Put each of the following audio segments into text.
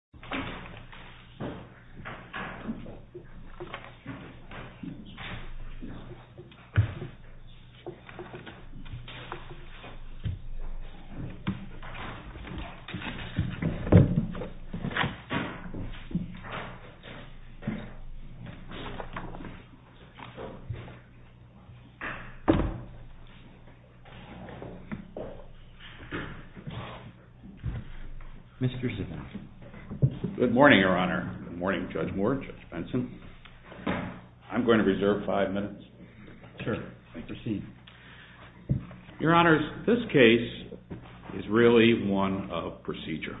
v. BMW SUM decided to install a new exhaust system since it was not even present in the Good morning, Your Honor. Good morning, Judge Moore, Judge Benson. I'm going to reserve five minutes. Sure, proceed. Your Honors, this case is really one of procedure.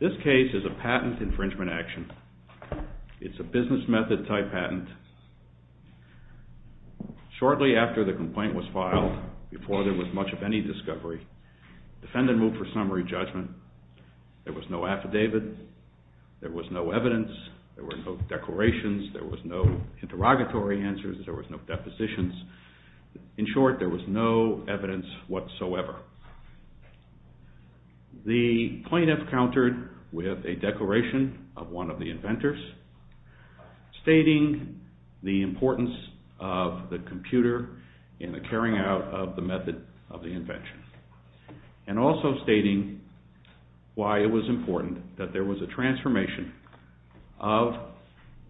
This case is a patent infringement action. It's a business method type patent. Shortly after the complaint was filed, before there was a move for summary judgment, there was no affidavit, there was no evidence, there were no declarations, there was no interrogatory answers, there was no depositions. In short, there was no evidence whatsoever. The plaintiff countered with a declaration of one of the inventors stating the importance of the computer in the carrying out of the method of the invention and also stating why it was important that there was a transformation of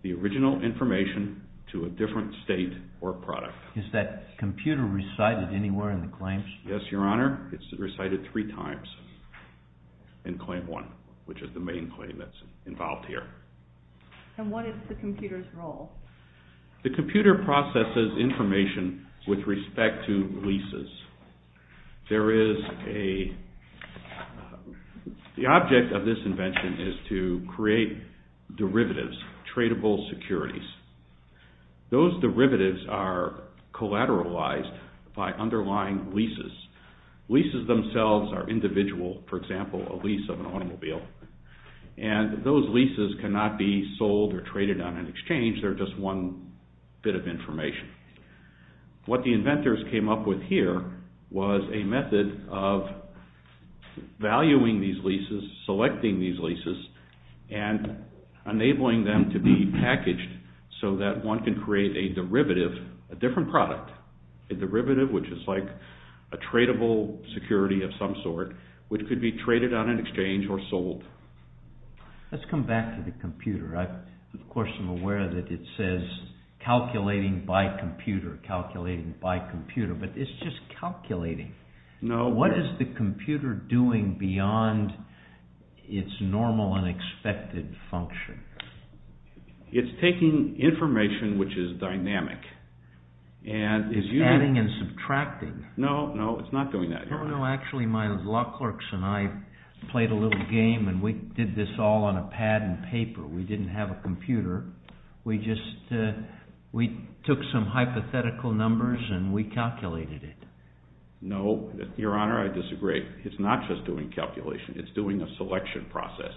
the original information to a different state or product. Is that computer recited anywhere in the claims? Yes, Your Honor. It's recited three times in claim one, which is the main claim that's involved here. And what is the computer's role? The computer processes information with respect to leases. The object of this invention is to create derivatives, tradable securities. Those derivatives are collateralized by underlying leases. Leases themselves are individual, for example, a lease of an automobile. And those leases cannot be sold or traded on an exchange. They're just one bit of information. What the inventors came up with here was a method of valuing these leases, selecting these leases, and enabling them to be packaged so that one can create a derivative, a different product. A derivative, which is like a tradable security of some sort, which could be traded on an exchange or sold. Let's come back to the computer. Of course, I'm aware that it says calculating by computer, calculating by computer, but it's just calculating. What is the computer doing beyond its normal and expected function? It's taking information which is dynamic. It's adding and subtracting. No, no, it's not doing that, Your Honor. Actually, my law clerks and I played a little game and we did this all on a pad and paper. We didn't have a computer. We took some hypothetical numbers and we calculated it. No, Your Honor, I disagree. It's not just doing calculation. It's doing a selection process.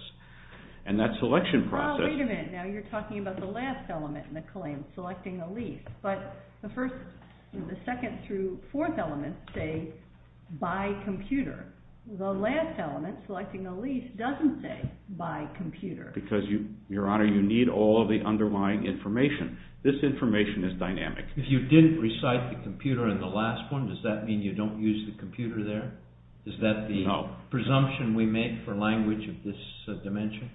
And that selection process... Wait a minute. Now you're talking about the last element in the claim, selecting a lease. But the first, the second through fourth elements say by computer. The last element, selecting a lease, doesn't say by computer. Because, Your Honor, you need all of the underlying information. This information is dynamic. If you didn't recite the computer in the last one, does that mean you don't use the computer there? No. Is that the presumption we make for language of this dimension?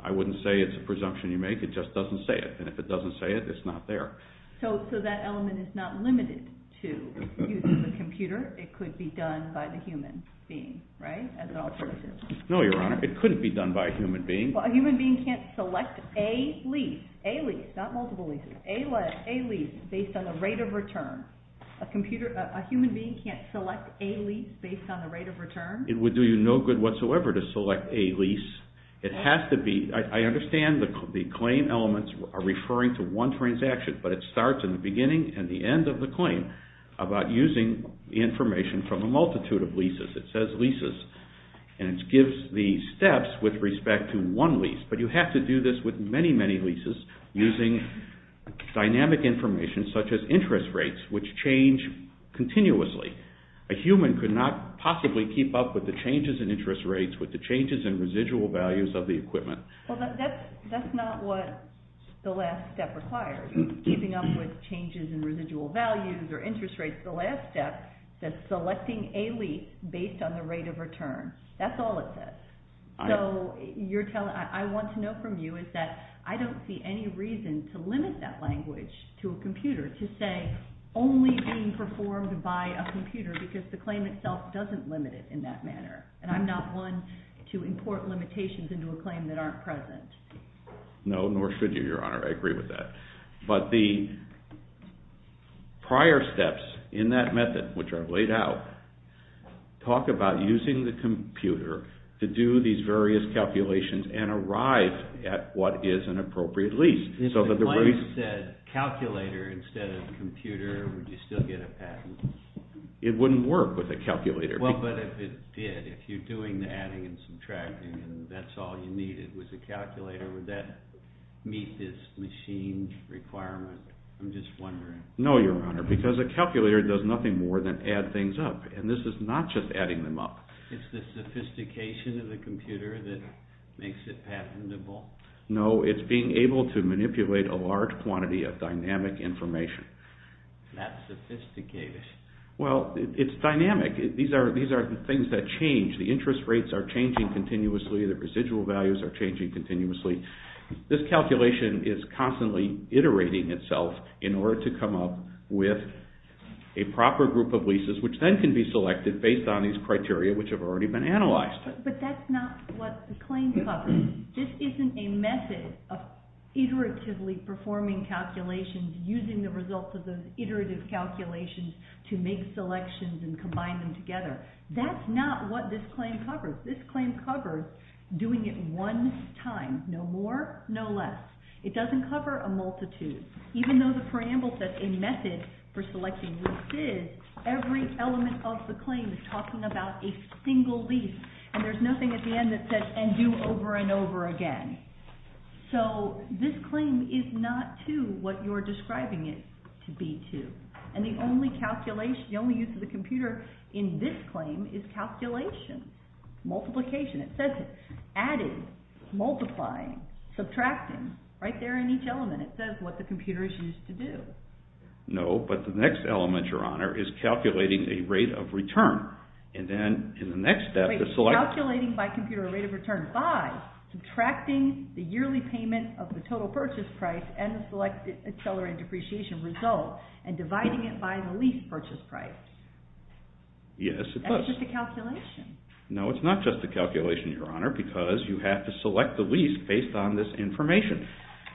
I wouldn't say it's a presumption you make. It just doesn't say it. And if it doesn't say it, it's not there. So that element is not limited to using the computer. It could be done by the human being, right, as an alternative? No, Your Honor. It couldn't be done by a human being. Well, a human being can't select a lease, a lease, not multiple leases, a lease based on the rate of return. A human being can't select a lease based on the rate of return? It would do you no good whatsoever to select a lease. I understand the claim elements are referring to one transaction, but it starts in the beginning and the end of the claim about using information from a multitude of leases. It says leases, and it gives the steps with respect to one lease. But you have to do this with many, many leases using dynamic information such as interest rates, which change continuously. A human could not possibly keep up with the changes in interest rates, with the changes in residual values of the equipment. Well, that's not what the last step requires, keeping up with changes in residual values or interest rates. The last step says selecting a lease based on the rate of return. That's all it says. So I want to know from you is that I don't see any reason to limit that language to a computer to say only being performed by a computer because the claim itself doesn't limit it in that manner. And I'm not one to import limitations into a claim that aren't present. No, nor should you, Your Honor. I agree with that. But the prior steps in that method, which I've laid out, talk about using the computer to do these various calculations and arrive at what is an appropriate lease. If the claim said calculator instead of computer, would you still get a patent? It wouldn't work with a calculator. Well, but if it did, if you're doing the adding and subtracting and that's all you needed was a calculator, would that meet this machine requirement? I'm just wondering. No, Your Honor, because a calculator does nothing more than add things up, and this is not just adding them up. It's the sophistication of the computer that makes it patentable? No, it's being able to manipulate a large quantity of dynamic information. That's sophisticated. Well, it's dynamic. These are the things that change. The interest rates are changing continuously. The residual values are changing continuously. This calculation is constantly iterating itself in order to come up with a proper group of leases, which then can be selected based on these criteria, which have already been analyzed. But that's not what the claim covers. This isn't a method of iteratively performing calculations, using the results of those iterative calculations to make selections and combine them together. That's not what this claim covers. This claim covers doing it one time, no more, no less. It doesn't cover a multitude. Even though the preamble said a method for selecting leases, every element of the claim is talking about a single lease. And there's nothing at the end that says, and do over and over again. So this claim is not to what you're describing it to be to. And the only use of the computer in this claim is calculation, multiplication. It says added, multiplying, subtracting right there in each element. It says what the computer is used to do. No, but the next element, Your Honor, is calculating a rate of return. Calculating by computer a rate of return by subtracting the yearly payment of the total purchase price and the selected accelerated depreciation result and dividing it by the lease purchase price. Yes, it does. That's just a calculation. No, it's not just a calculation, Your Honor, because you have to select the lease based on this information.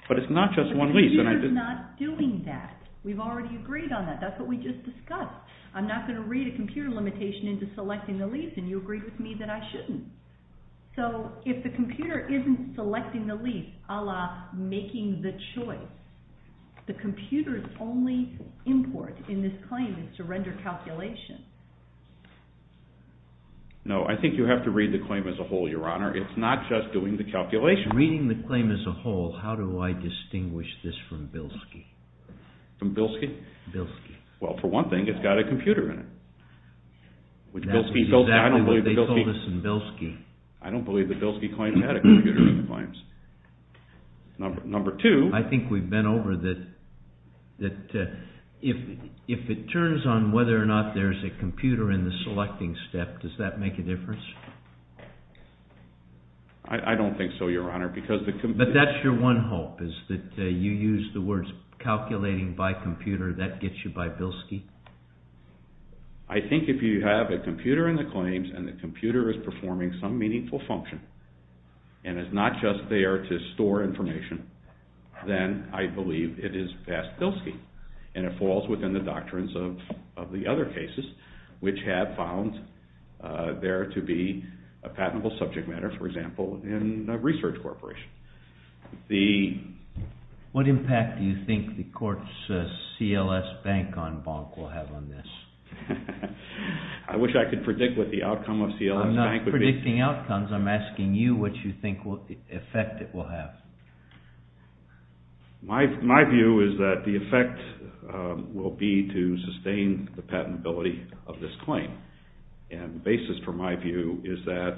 But it's not just one lease. The computer's not doing that. We've already agreed on that. That's what we just discussed. I'm not going to read a computer limitation into selecting the lease, and you agree with me that I shouldn't. So if the computer isn't selecting the lease a la making the choice, the computer's only import in this claim is to render calculation. No, I think you have to read the claim as a whole, Your Honor. It's not just doing the calculation. Reading the claim as a whole, how do I distinguish this from Bilski? From Bilski? Bilski. Well, for one thing, it's got a computer in it. That's exactly what they told us in Bilski. I don't believe the Bilski claim had a computer in the claims. Number two... I think we've been over that if it turns on whether or not there's a computer in the selecting step, does that make a difference? I don't think so, Your Honor, because the computer... But that's your one hope, is that you use the words calculating by computer, that gets you by Bilski? I think if you have a computer in the claims, and the computer is performing some meaningful function, and is not just there to store information, then I believe it is past Bilski. And it falls within the doctrines of the other cases, which have found there to be a patentable subject matter, for example, in a research corporation. What impact do you think the court's CLS Bank on Bonk will have on this? I wish I could predict what the outcome of CLS Bank would be. When you're predicting outcomes, I'm asking you what you think the effect it will have. My view is that the effect will be to sustain the patentability of this claim. And the basis for my view is that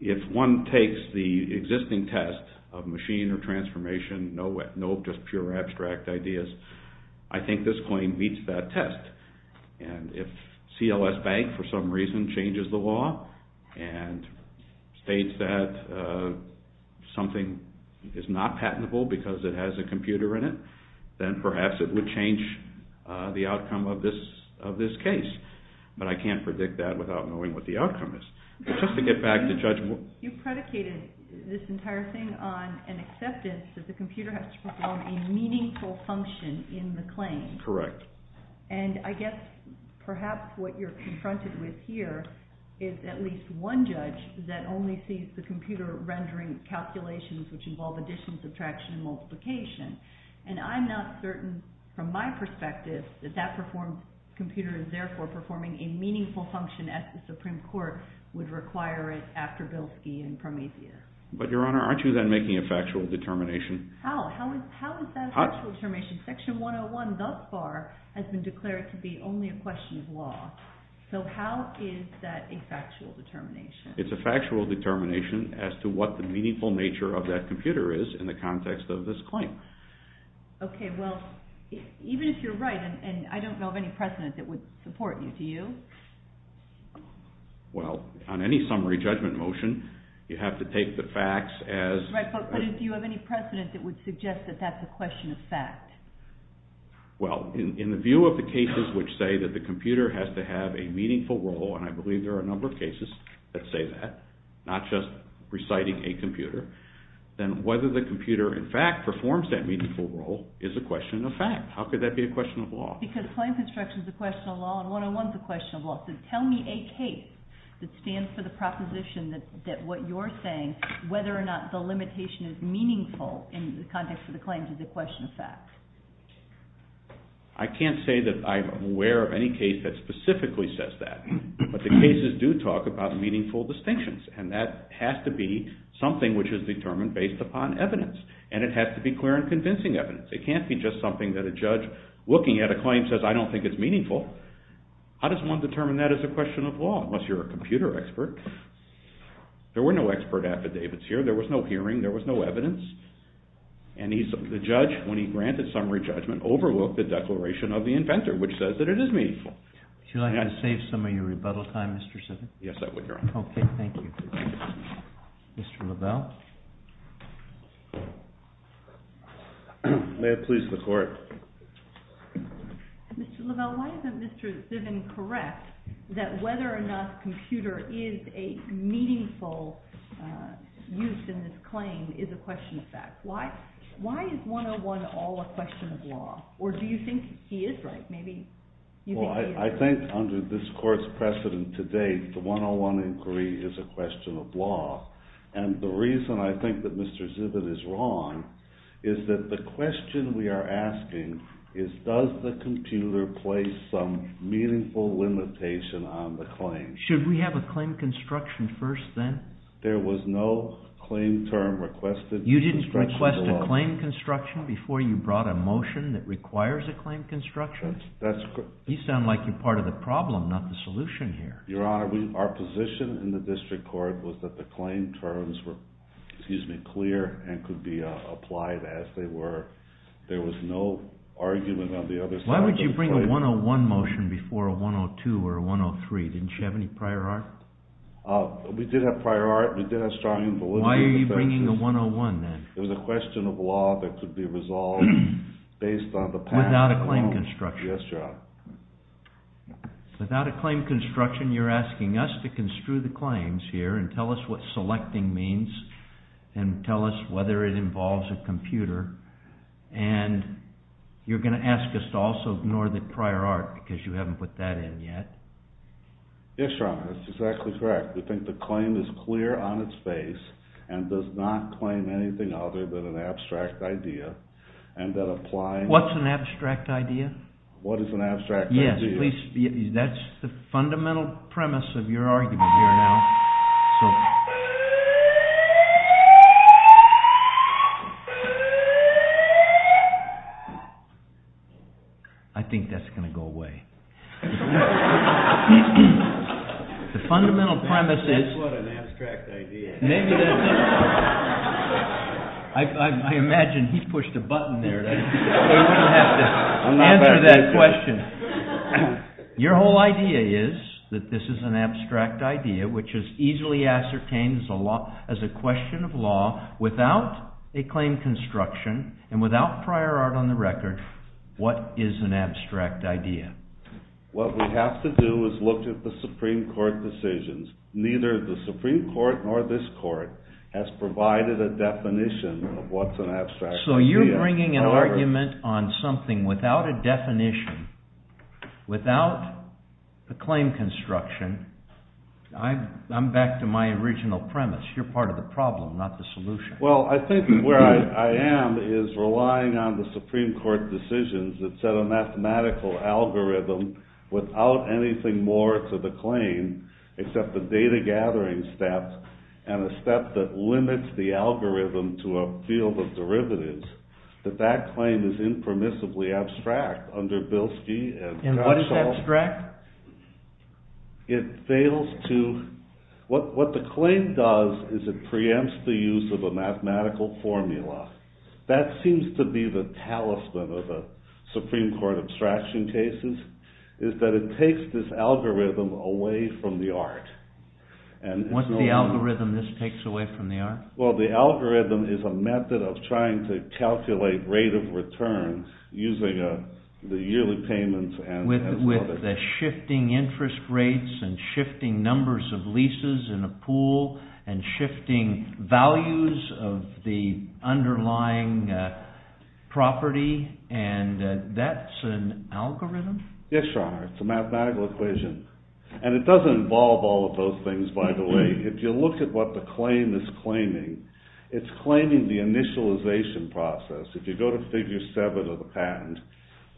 if one takes the existing test of machine or transformation, no just pure abstract ideas, I think this claim meets that test. And if CLS Bank for some reason changes the law, and states that something is not patentable because it has a computer in it, then perhaps it would change the outcome of this case. But I can't predict that without knowing what the outcome is. You predicated this entire thing on an acceptance that the computer has to perform a meaningful function in the claim. Correct. And I guess perhaps what you're confronted with here is at least one judge that only sees the computer rendering calculations which involve addition, subtraction, and multiplication. And I'm not certain, from my perspective, that that computer is therefore performing a meaningful function at the Supreme Court would require it after Bilski and Prometheus. But Your Honor, aren't you then making a factual determination? How? How is that a factual determination? Section 101 thus far has been declared to be only a question of law. So how is that a factual determination? It's a factual determination as to what the meaningful nature of that computer is in the context of this claim. Okay, well, even if you're right, and I don't know of any precedent that would support you, do you? Well, on any summary judgment motion, you have to take the facts as... Right, but do you have any precedent that would suggest that that's a question of fact? Well, in the view of the cases which say that the computer has to have a meaningful role, and I believe there are a number of cases that say that, not just reciting a computer, then whether the computer in fact performs that meaningful role is a question of fact. How could that be a question of law? Because claims instruction is a question of law and 101 is a question of law. So tell me a case that stands for the proposition that what you're saying, whether or not the limitation is meaningful in the context of the claims, is a question of fact. I can't say that I'm aware of any case that specifically says that. But the cases do talk about meaningful distinctions. And that has to be something which is determined based upon evidence. And it has to be clear and convincing evidence. It can't be just something that a judge, looking at a claim, says, I don't think it's meaningful. How does one determine that as a question of law, unless you're a computer expert? There were no expert affidavits here. There was no hearing. There was no evidence. And the judge, when he granted summary judgment, overlooked the declaration of the inventor, which says that it is meaningful. Would you like me to save some of your rebuttal time, Mr. Simmons? Yes, I would, Your Honor. Okay, thank you. Mr. LaBelle? May it please the Court. Mr. LaBelle, why isn't Mr. Simmons correct that whether or not computer is a meaningful use in this claim is a question of fact? Why is 101 all a question of law? Or do you think he is right? Maybe you think he is. Well, I think under this Court's precedent today, the 101 inquiry is a question of law. And the reason I think that Mr. Zivit is wrong is that the question we are asking is, does the computer place some meaningful limitation on the claim? Should we have a claim construction first, then? There was no claim term requested. You didn't request a claim construction before you brought a motion that requires a claim construction? That's correct. You sound like you're part of the problem, not the solution here. Your Honor, our position in the District Court was that the claim terms were, excuse me, clear and could be applied as they were. There was no argument on the other side of the plate. Why would you bring a 101 motion before a 102 or a 103? Didn't you have any prior art? We did have prior art. We did have strong invalidity assertions. Why are you bringing a 101, then? It was a question of law that could be resolved based on the past. Without a claim construction? Yes, Your Honor. Without a claim construction, you're asking us to construe the claims here and tell us what selecting means and tell us whether it involves a computer, and you're going to ask us to also ignore the prior art because you haven't put that in yet? Yes, Your Honor. That's exactly correct. We think the claim is clear on its face and does not claim anything other than an abstract idea and that applying… What's an abstract idea? What is an abstract idea? Yes, please. That's the fundamental premise of your argument here now. I think that's going to go away. The fundamental premise is… What an abstract idea. I imagine he pushed a button there. We wouldn't have to answer that question. Your whole idea is that this is an abstract idea which is easily ascertained as a question of law without a claim construction and without prior art on the record. What is an abstract idea? What we have to do is look at the Supreme Court decisions. Neither the Supreme Court nor this Court has provided a definition of what's an abstract idea. So you're bringing an argument on something without a definition, without a claim construction. I'm back to my original premise. You're part of the problem, not the solution. Well, I think where I am is relying on the Supreme Court decisions that set a mathematical algorithm without anything more to the claim except the data gathering step and a step that limits the algorithm to a field of derivatives. That that claim is impermissibly abstract under Bilski and… And what is abstract? It fails to… What the claim does is it preempts the use of a mathematical formula. That seems to be the talisman of the Supreme Court abstraction cases is that it takes this algorithm away from the art. What's the algorithm this takes away from the art? Well, the algorithm is a method of trying to calculate rate of return using the yearly payments and… The shifting interest rates and shifting numbers of leases in a pool and shifting values of the underlying property and that's an algorithm? Yes, Your Honor. It's a mathematical equation. And it doesn't involve all of those things, by the way. If you look at what the claim is claiming, it's claiming the initialization process. If you go to figure 7 of the patent,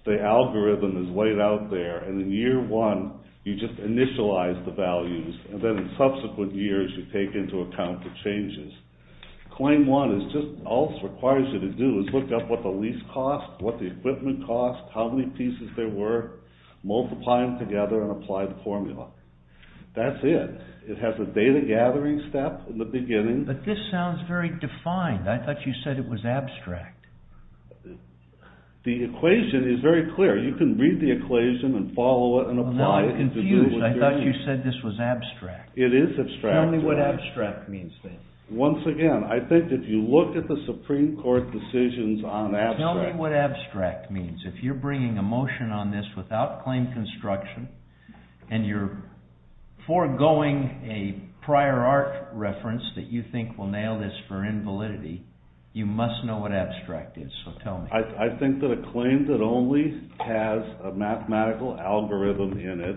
the algorithm is laid out there and in year 1 you just initialize the values and then in subsequent years you take into account the changes. Claim 1 is just… All it requires you to do is look up what the lease cost, what the equipment cost, how many pieces there were, multiply them together and apply the formula. That's it. It has a data gathering step in the beginning… But this sounds very defined. I thought you said it was abstract. The equation is very clear. You can read the equation and follow it and apply it to do what you're doing. No, I'm confused. I thought you said this was abstract. It is abstract. Tell me what abstract means then. Once again, I think if you look at the Supreme Court decisions on abstract… I think we'll nail this for invalidity. You must know what abstract is, so tell me. I think that a claim that only has a mathematical algorithm in it,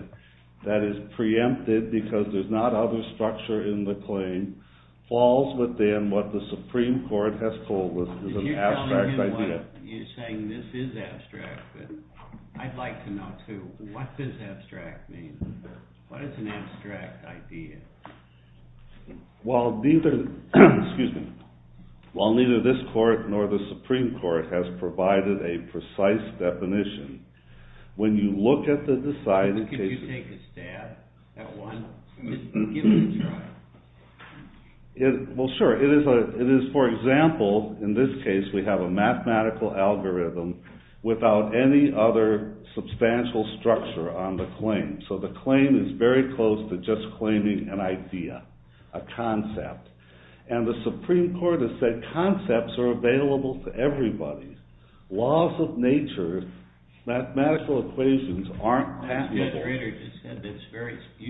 that is preempted because there's not other structure in the claim, falls within what the Supreme Court has told us is an abstract idea. You're saying this is abstract, but I'd like to know too, what does abstract mean? What is an abstract idea? Well, neither this court nor the Supreme Court has provided a precise definition. When you look at the… Could you take a stab at one? Give it a try. Well, sure. It is, for example, in this case we have a mathematical algorithm without any other substantial structure on the claim. So the claim is very close to just claiming an idea, a concept. And the Supreme Court has said concepts are available to everybody. Laws of nature, mathematical equations aren't… You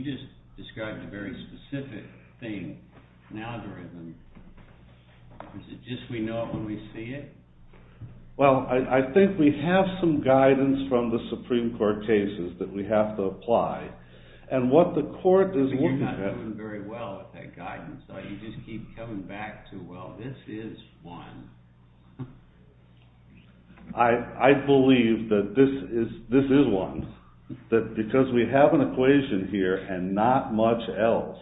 just described a very specific thing, an algorithm. Is it just we know it when we see it? Well, I think we have some guidance from the Supreme Court cases that we have to apply. And what the court is looking at… But you're not doing very well with that guidance. You just keep coming back to, well, this is one. I believe that this is one, that because we have an equation here and not much else,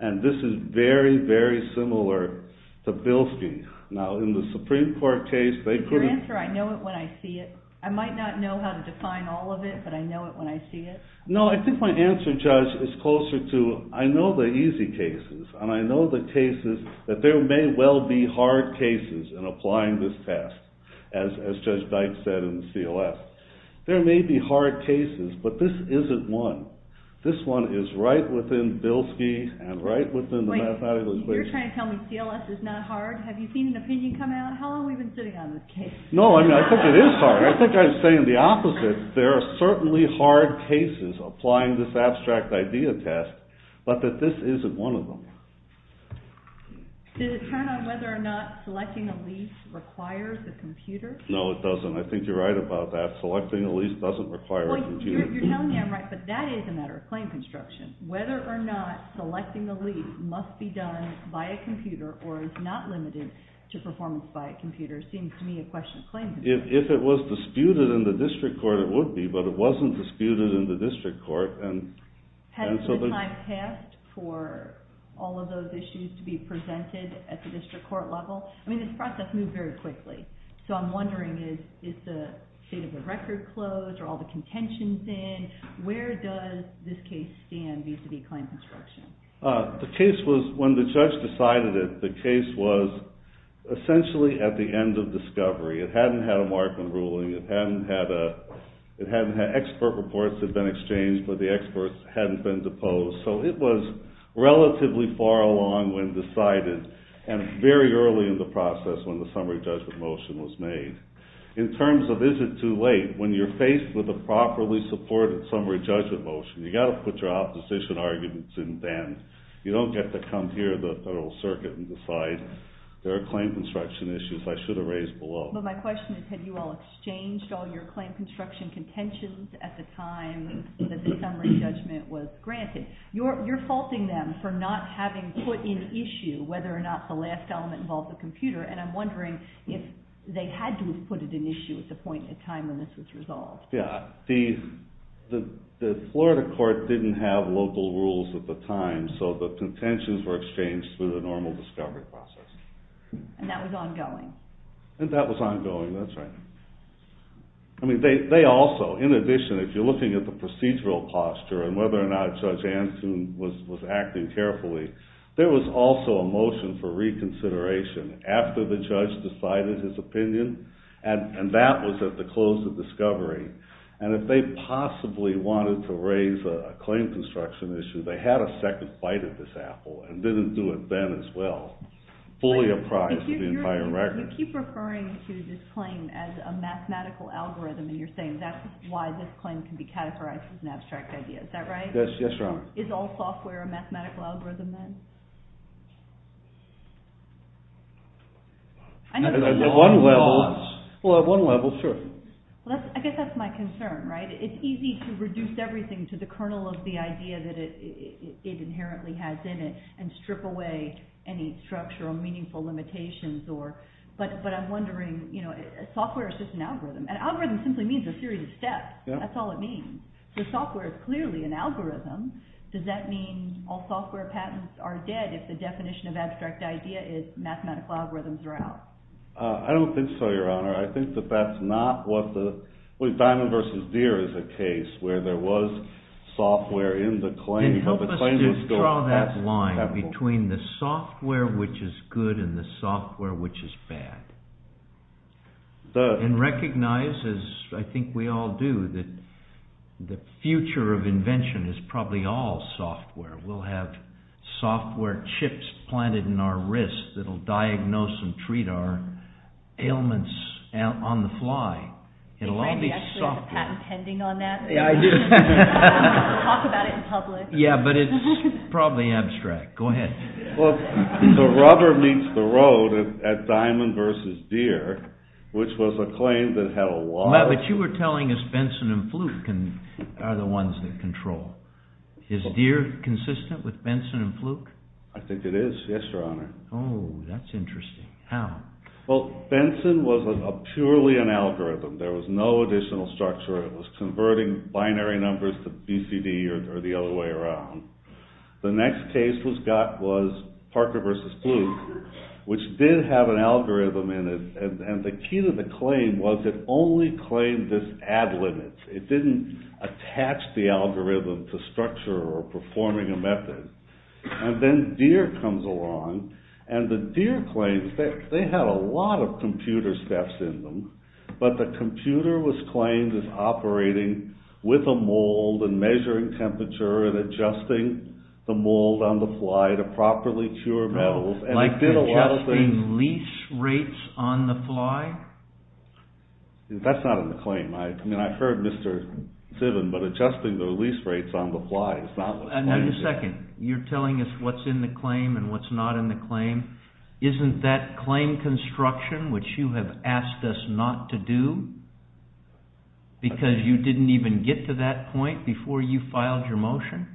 and this is very, very similar to Bilski. Now, in the Supreme Court case, they couldn't… Is your answer, I know it when I see it? I might not know how to define all of it, but I know it when I see it? No, I think my answer, Judge, is closer to, I know the easy cases, and I know the cases that there may well be hard cases in applying this test, as Judge Dykes said in the CLS. There may be hard cases, but this isn't one. This one is right within Bilski and right within the mathematical equation. Wait, you're trying to tell me CLS is not hard? Have you seen an opinion come out? How long have we been sitting on this case? No, I think it is hard. I think I'm saying the opposite. There are certainly hard cases applying this abstract idea test, but that this isn't one of them. Does it turn on whether or not selecting a lease requires a computer? No, it doesn't. I think you're right about that. Selecting a lease doesn't require a computer. You're telling me I'm right, but that is a matter of claim construction. Whether or not selecting a lease must be done by a computer or is not limited to performance by a computer seems to me a question of claim construction. If it was disputed in the district court, it would be, but it wasn't disputed in the district court. Has the time passed for all of those issues to be presented at the district court level? I mean, this process moved very quickly. So I'm wondering, is the state of the record closed? Are all the contentions in? Where does this case stand vis-a-vis claim construction? The case was, when the judge decided it, the case was essentially at the end of discovery. It hadn't had a Markman ruling. Expert reports had been exchanged, but the experts hadn't been deposed. So it was relatively far along when decided and very early in the process when the summary judgment motion was made. In terms of is it too late, when you're faced with a properly supported summary judgment motion, you've got to put your opposition arguments in then. You don't get to come here to the Federal Circuit and decide there are claim construction issues I should have raised below. But my question is, had you all exchanged all your claim construction contentions at the time that the summary judgment was granted? You're faulting them for not having put in issue whether or not the last element involved the computer, and I'm wondering if they had to have put it in issue at the point in time when this was resolved. Yeah. The Florida court didn't have local rules at the time, so the contentions were exchanged through the normal discovery process. And that was ongoing? And that was ongoing, that's right. I mean, they also, in addition, if you're looking at the procedural posture and whether or not Judge Antoon was acting carefully, there was also a motion for reconsideration after the judge decided his opinion, and that was at the close of discovery. And if they possibly wanted to raise a claim construction issue, they had a second bite at this apple and didn't do it then as well. If you keep referring to this claim as a mathematical algorithm and you're saying that's why this claim can be categorized as an abstract idea, is that right? Yes, that's right. Is all software a mathematical algorithm then? At one level, sure. I guess that's my concern, right? It's easy to reduce everything to the kernel of the idea that it inherently has in it and strip away any structural, meaningful limitations. But I'm wondering, software is just an algorithm. An algorithm simply means a series of steps. That's all it means. So software is clearly an algorithm. Does that mean all software patents are dead if the definition of abstract idea is mathematical algorithms are out? I don't think so, Your Honor. I think that that's not what the… Diamond vs. Deere is a case where there was software in the claim… Then help us to draw that line between the software which is good and the software which is bad. And recognize, as I think we all do, that the future of invention is probably all software. We'll have software chips planted in our wrists that will diagnose and treat our ailments on the fly. Are you actually patent-pending on that? Yeah, I do. Talk about it in public. Yeah, but it's probably abstract. Go ahead. So rubber meets the road at Diamond vs. Deere, which was a claim that had a lot of… But you were telling us Benson and Fluke are the ones that control. Is Deere consistent with Benson and Fluke? I think it is, yes, Your Honor. Oh, that's interesting. How? Well, Benson was purely an algorithm. There was no additional structure. It was converting binary numbers to BCD or the other way around. The next case was Parker vs. Fluke, which did have an algorithm in it. And the key to the claim was it only claimed this add limit. It didn't attach the algorithm to structure or performing a method. And then Deere comes along, and the Deere claims they had a lot of computer steps in them, but the computer was claimed as operating with a mold and measuring temperature and adjusting the mold on the fly to properly cure metals. Like adjusting lease rates on the fly? That's not in the claim. I mean, I've heard Mr. Ziven, but adjusting the lease rates on the fly is not what's claimed. Now, wait a second. You're telling us what's in the claim and what's not in the claim. Isn't that claim construction, which you have asked us not to do because you didn't even get to that point before you filed your motion?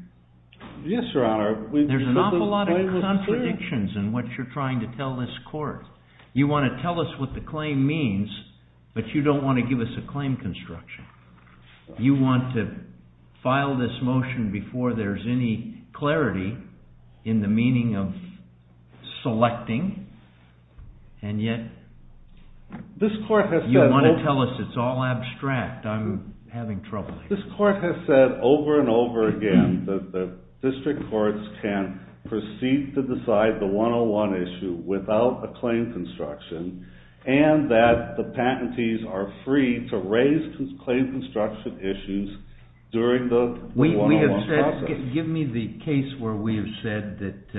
Yes, Your Honor. There's an awful lot of contradictions in what you're trying to tell this court. You want to tell us what the claim means, but you don't want to give us a claim construction. You want to file this motion before there's any clarity in the meaning of selecting, and yet you want to tell us it's all abstract. I'm having trouble here. This court has said over and over again that the district courts can proceed to decide the 101 issue without a claim construction, and that the patentees are free to raise claim construction issues during the 101 process. Give me the case where we have said that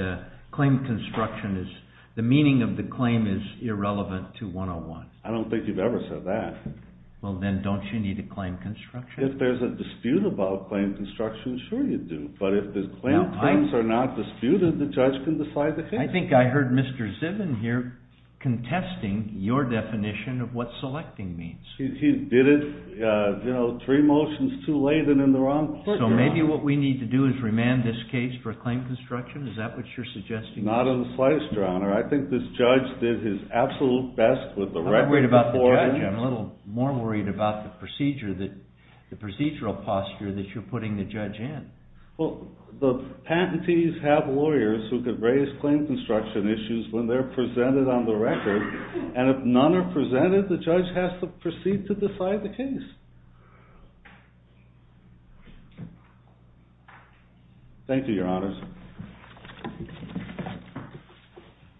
the meaning of the claim is irrelevant to 101. I don't think you've ever said that. Well, then don't you need a claim construction? If there's a dispute about claim construction, sure you do, but if the claims are not disputed, the judge can decide the case. I think I heard Mr. Zivin here contesting your definition of what selecting means. He did it three motions too late and in the wrong place. So maybe what we need to do is remand this case for a claim construction? Is that what you're suggesting? Not in the slightest, Your Honor. I think this judge did his absolute best with the record before him. I'm a little more worried about the procedural posture that you're putting the judge in. Well, the patentees have lawyers who can raise claim construction issues when they're presented on the record, and if none are presented, the judge has to proceed to decide the case. Thank you, Your Honors.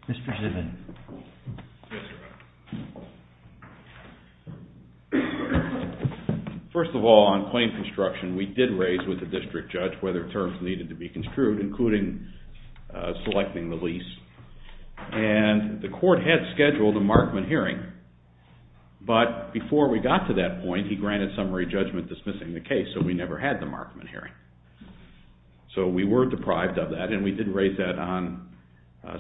Mr. Zivin. Yes, Your Honor. First of all, on claim construction, we did raise with the district judge whether terms needed to be construed, including selecting the lease, and the court had scheduled a Markman hearing. But before we got to that point, he granted summary judgment dismissing the case, so we never had the Markman hearing. So we were deprived of that, and we did raise that on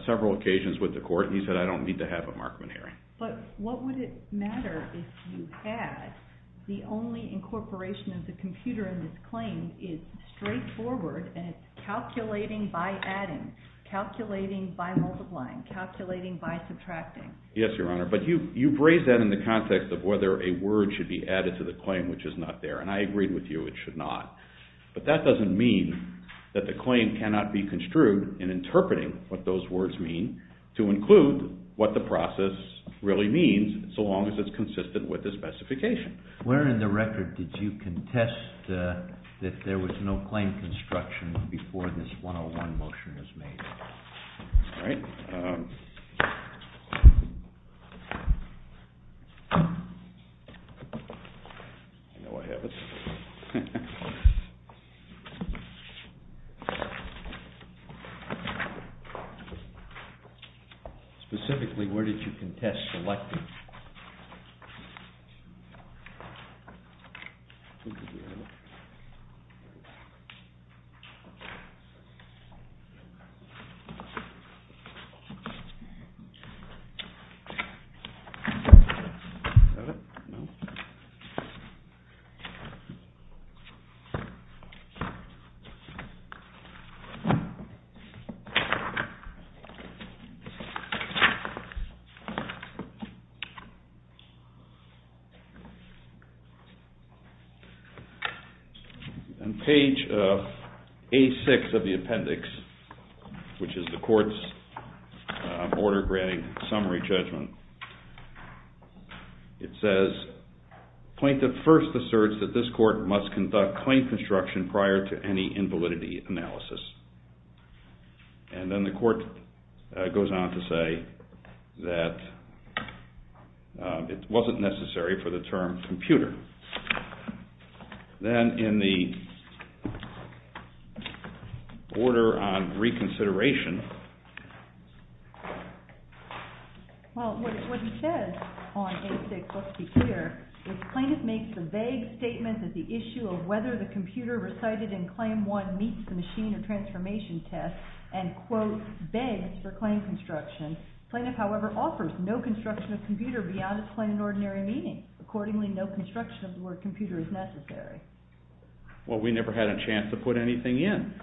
several occasions with the court, and he said, I don't need to have a Markman hearing. But what would it matter if you had the only incorporation of the computer in this claim is straightforward, and it's calculating by adding, calculating by multiplying, calculating by subtracting. Yes, Your Honor, but you've raised that in the context of whether a word should be added to the claim which is not there, and I agreed with you it should not. But that doesn't mean that the claim cannot be construed in interpreting what those words mean to include what the process really means so long as it's consistent with the specification. Where in the record did you contest that there was no claim construction before this 101 motion was made? All right. I know I have it. Specifically, where did you contest selecting? All right. Page A-6 of the appendix, which is the court's order granting summary judgment. It says, plaintiff first asserts that this court must conduct claim construction prior to any invalidity analysis. And then the court goes on to say that it wasn't necessary for the term computer. Then in the order on reconsideration. Well, what he says on A-6, let's be clear, is plaintiff makes the vague statement that the issue of whether the computer recited in Claim 1 meets the machine or transformation test and, quote, begs for claim construction. Plaintiff, however, offers no construction of computer beyond its plain and ordinary meaning. Accordingly, no construction of the word computer is necessary. Well, we never had a chance to put anything in.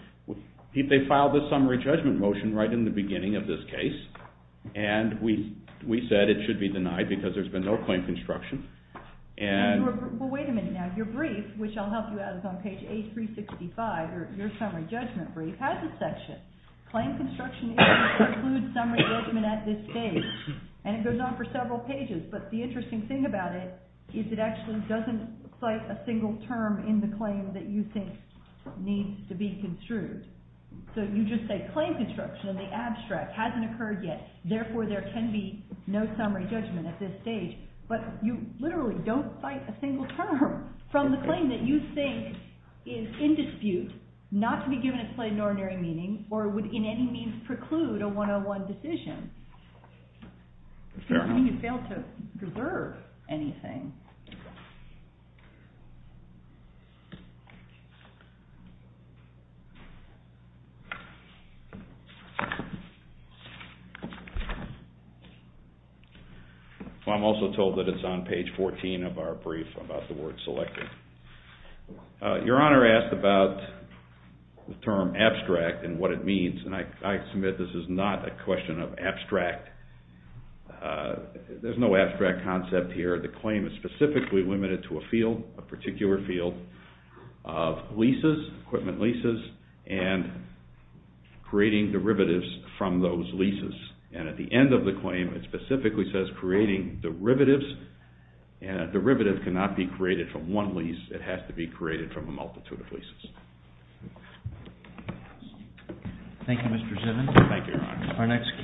They filed this summary judgment motion right in the beginning of this case. And we said it should be denied because there's been no claim construction. Well, wait a minute now. Your brief, which I'll help you out with on page A-365, your summary judgment brief, has a section. Claim construction is to include summary judgment at this stage. And it goes on for several pages. But the interesting thing about it is it actually doesn't cite a single term in the claim that you think needs to be construed. So you just say claim construction in the abstract hasn't occurred yet. Therefore, there can be no summary judgment at this stage. But you literally don't cite a single term from the claim that you think is in dispute, not to be given its plain and ordinary meaning, or would in any means preclude a one-on-one decision. Fair enough. You fail to reserve anything. Well, I'm also told that it's on page 14 of our brief about the word selected. Your Honor asked about the term abstract and what it means. And I submit this is not a question of abstract. There's no abstract concept here. The claim is specifically limited to a field, a particular field of leases, equipment leases, and creating derivatives from those leases. And at the end of the claim, it specifically says creating derivatives. And a derivative cannot be created from one lease. It has to be created from a multitude of leases. Thank you, Mr. Simmons. Thank you, Your Honor.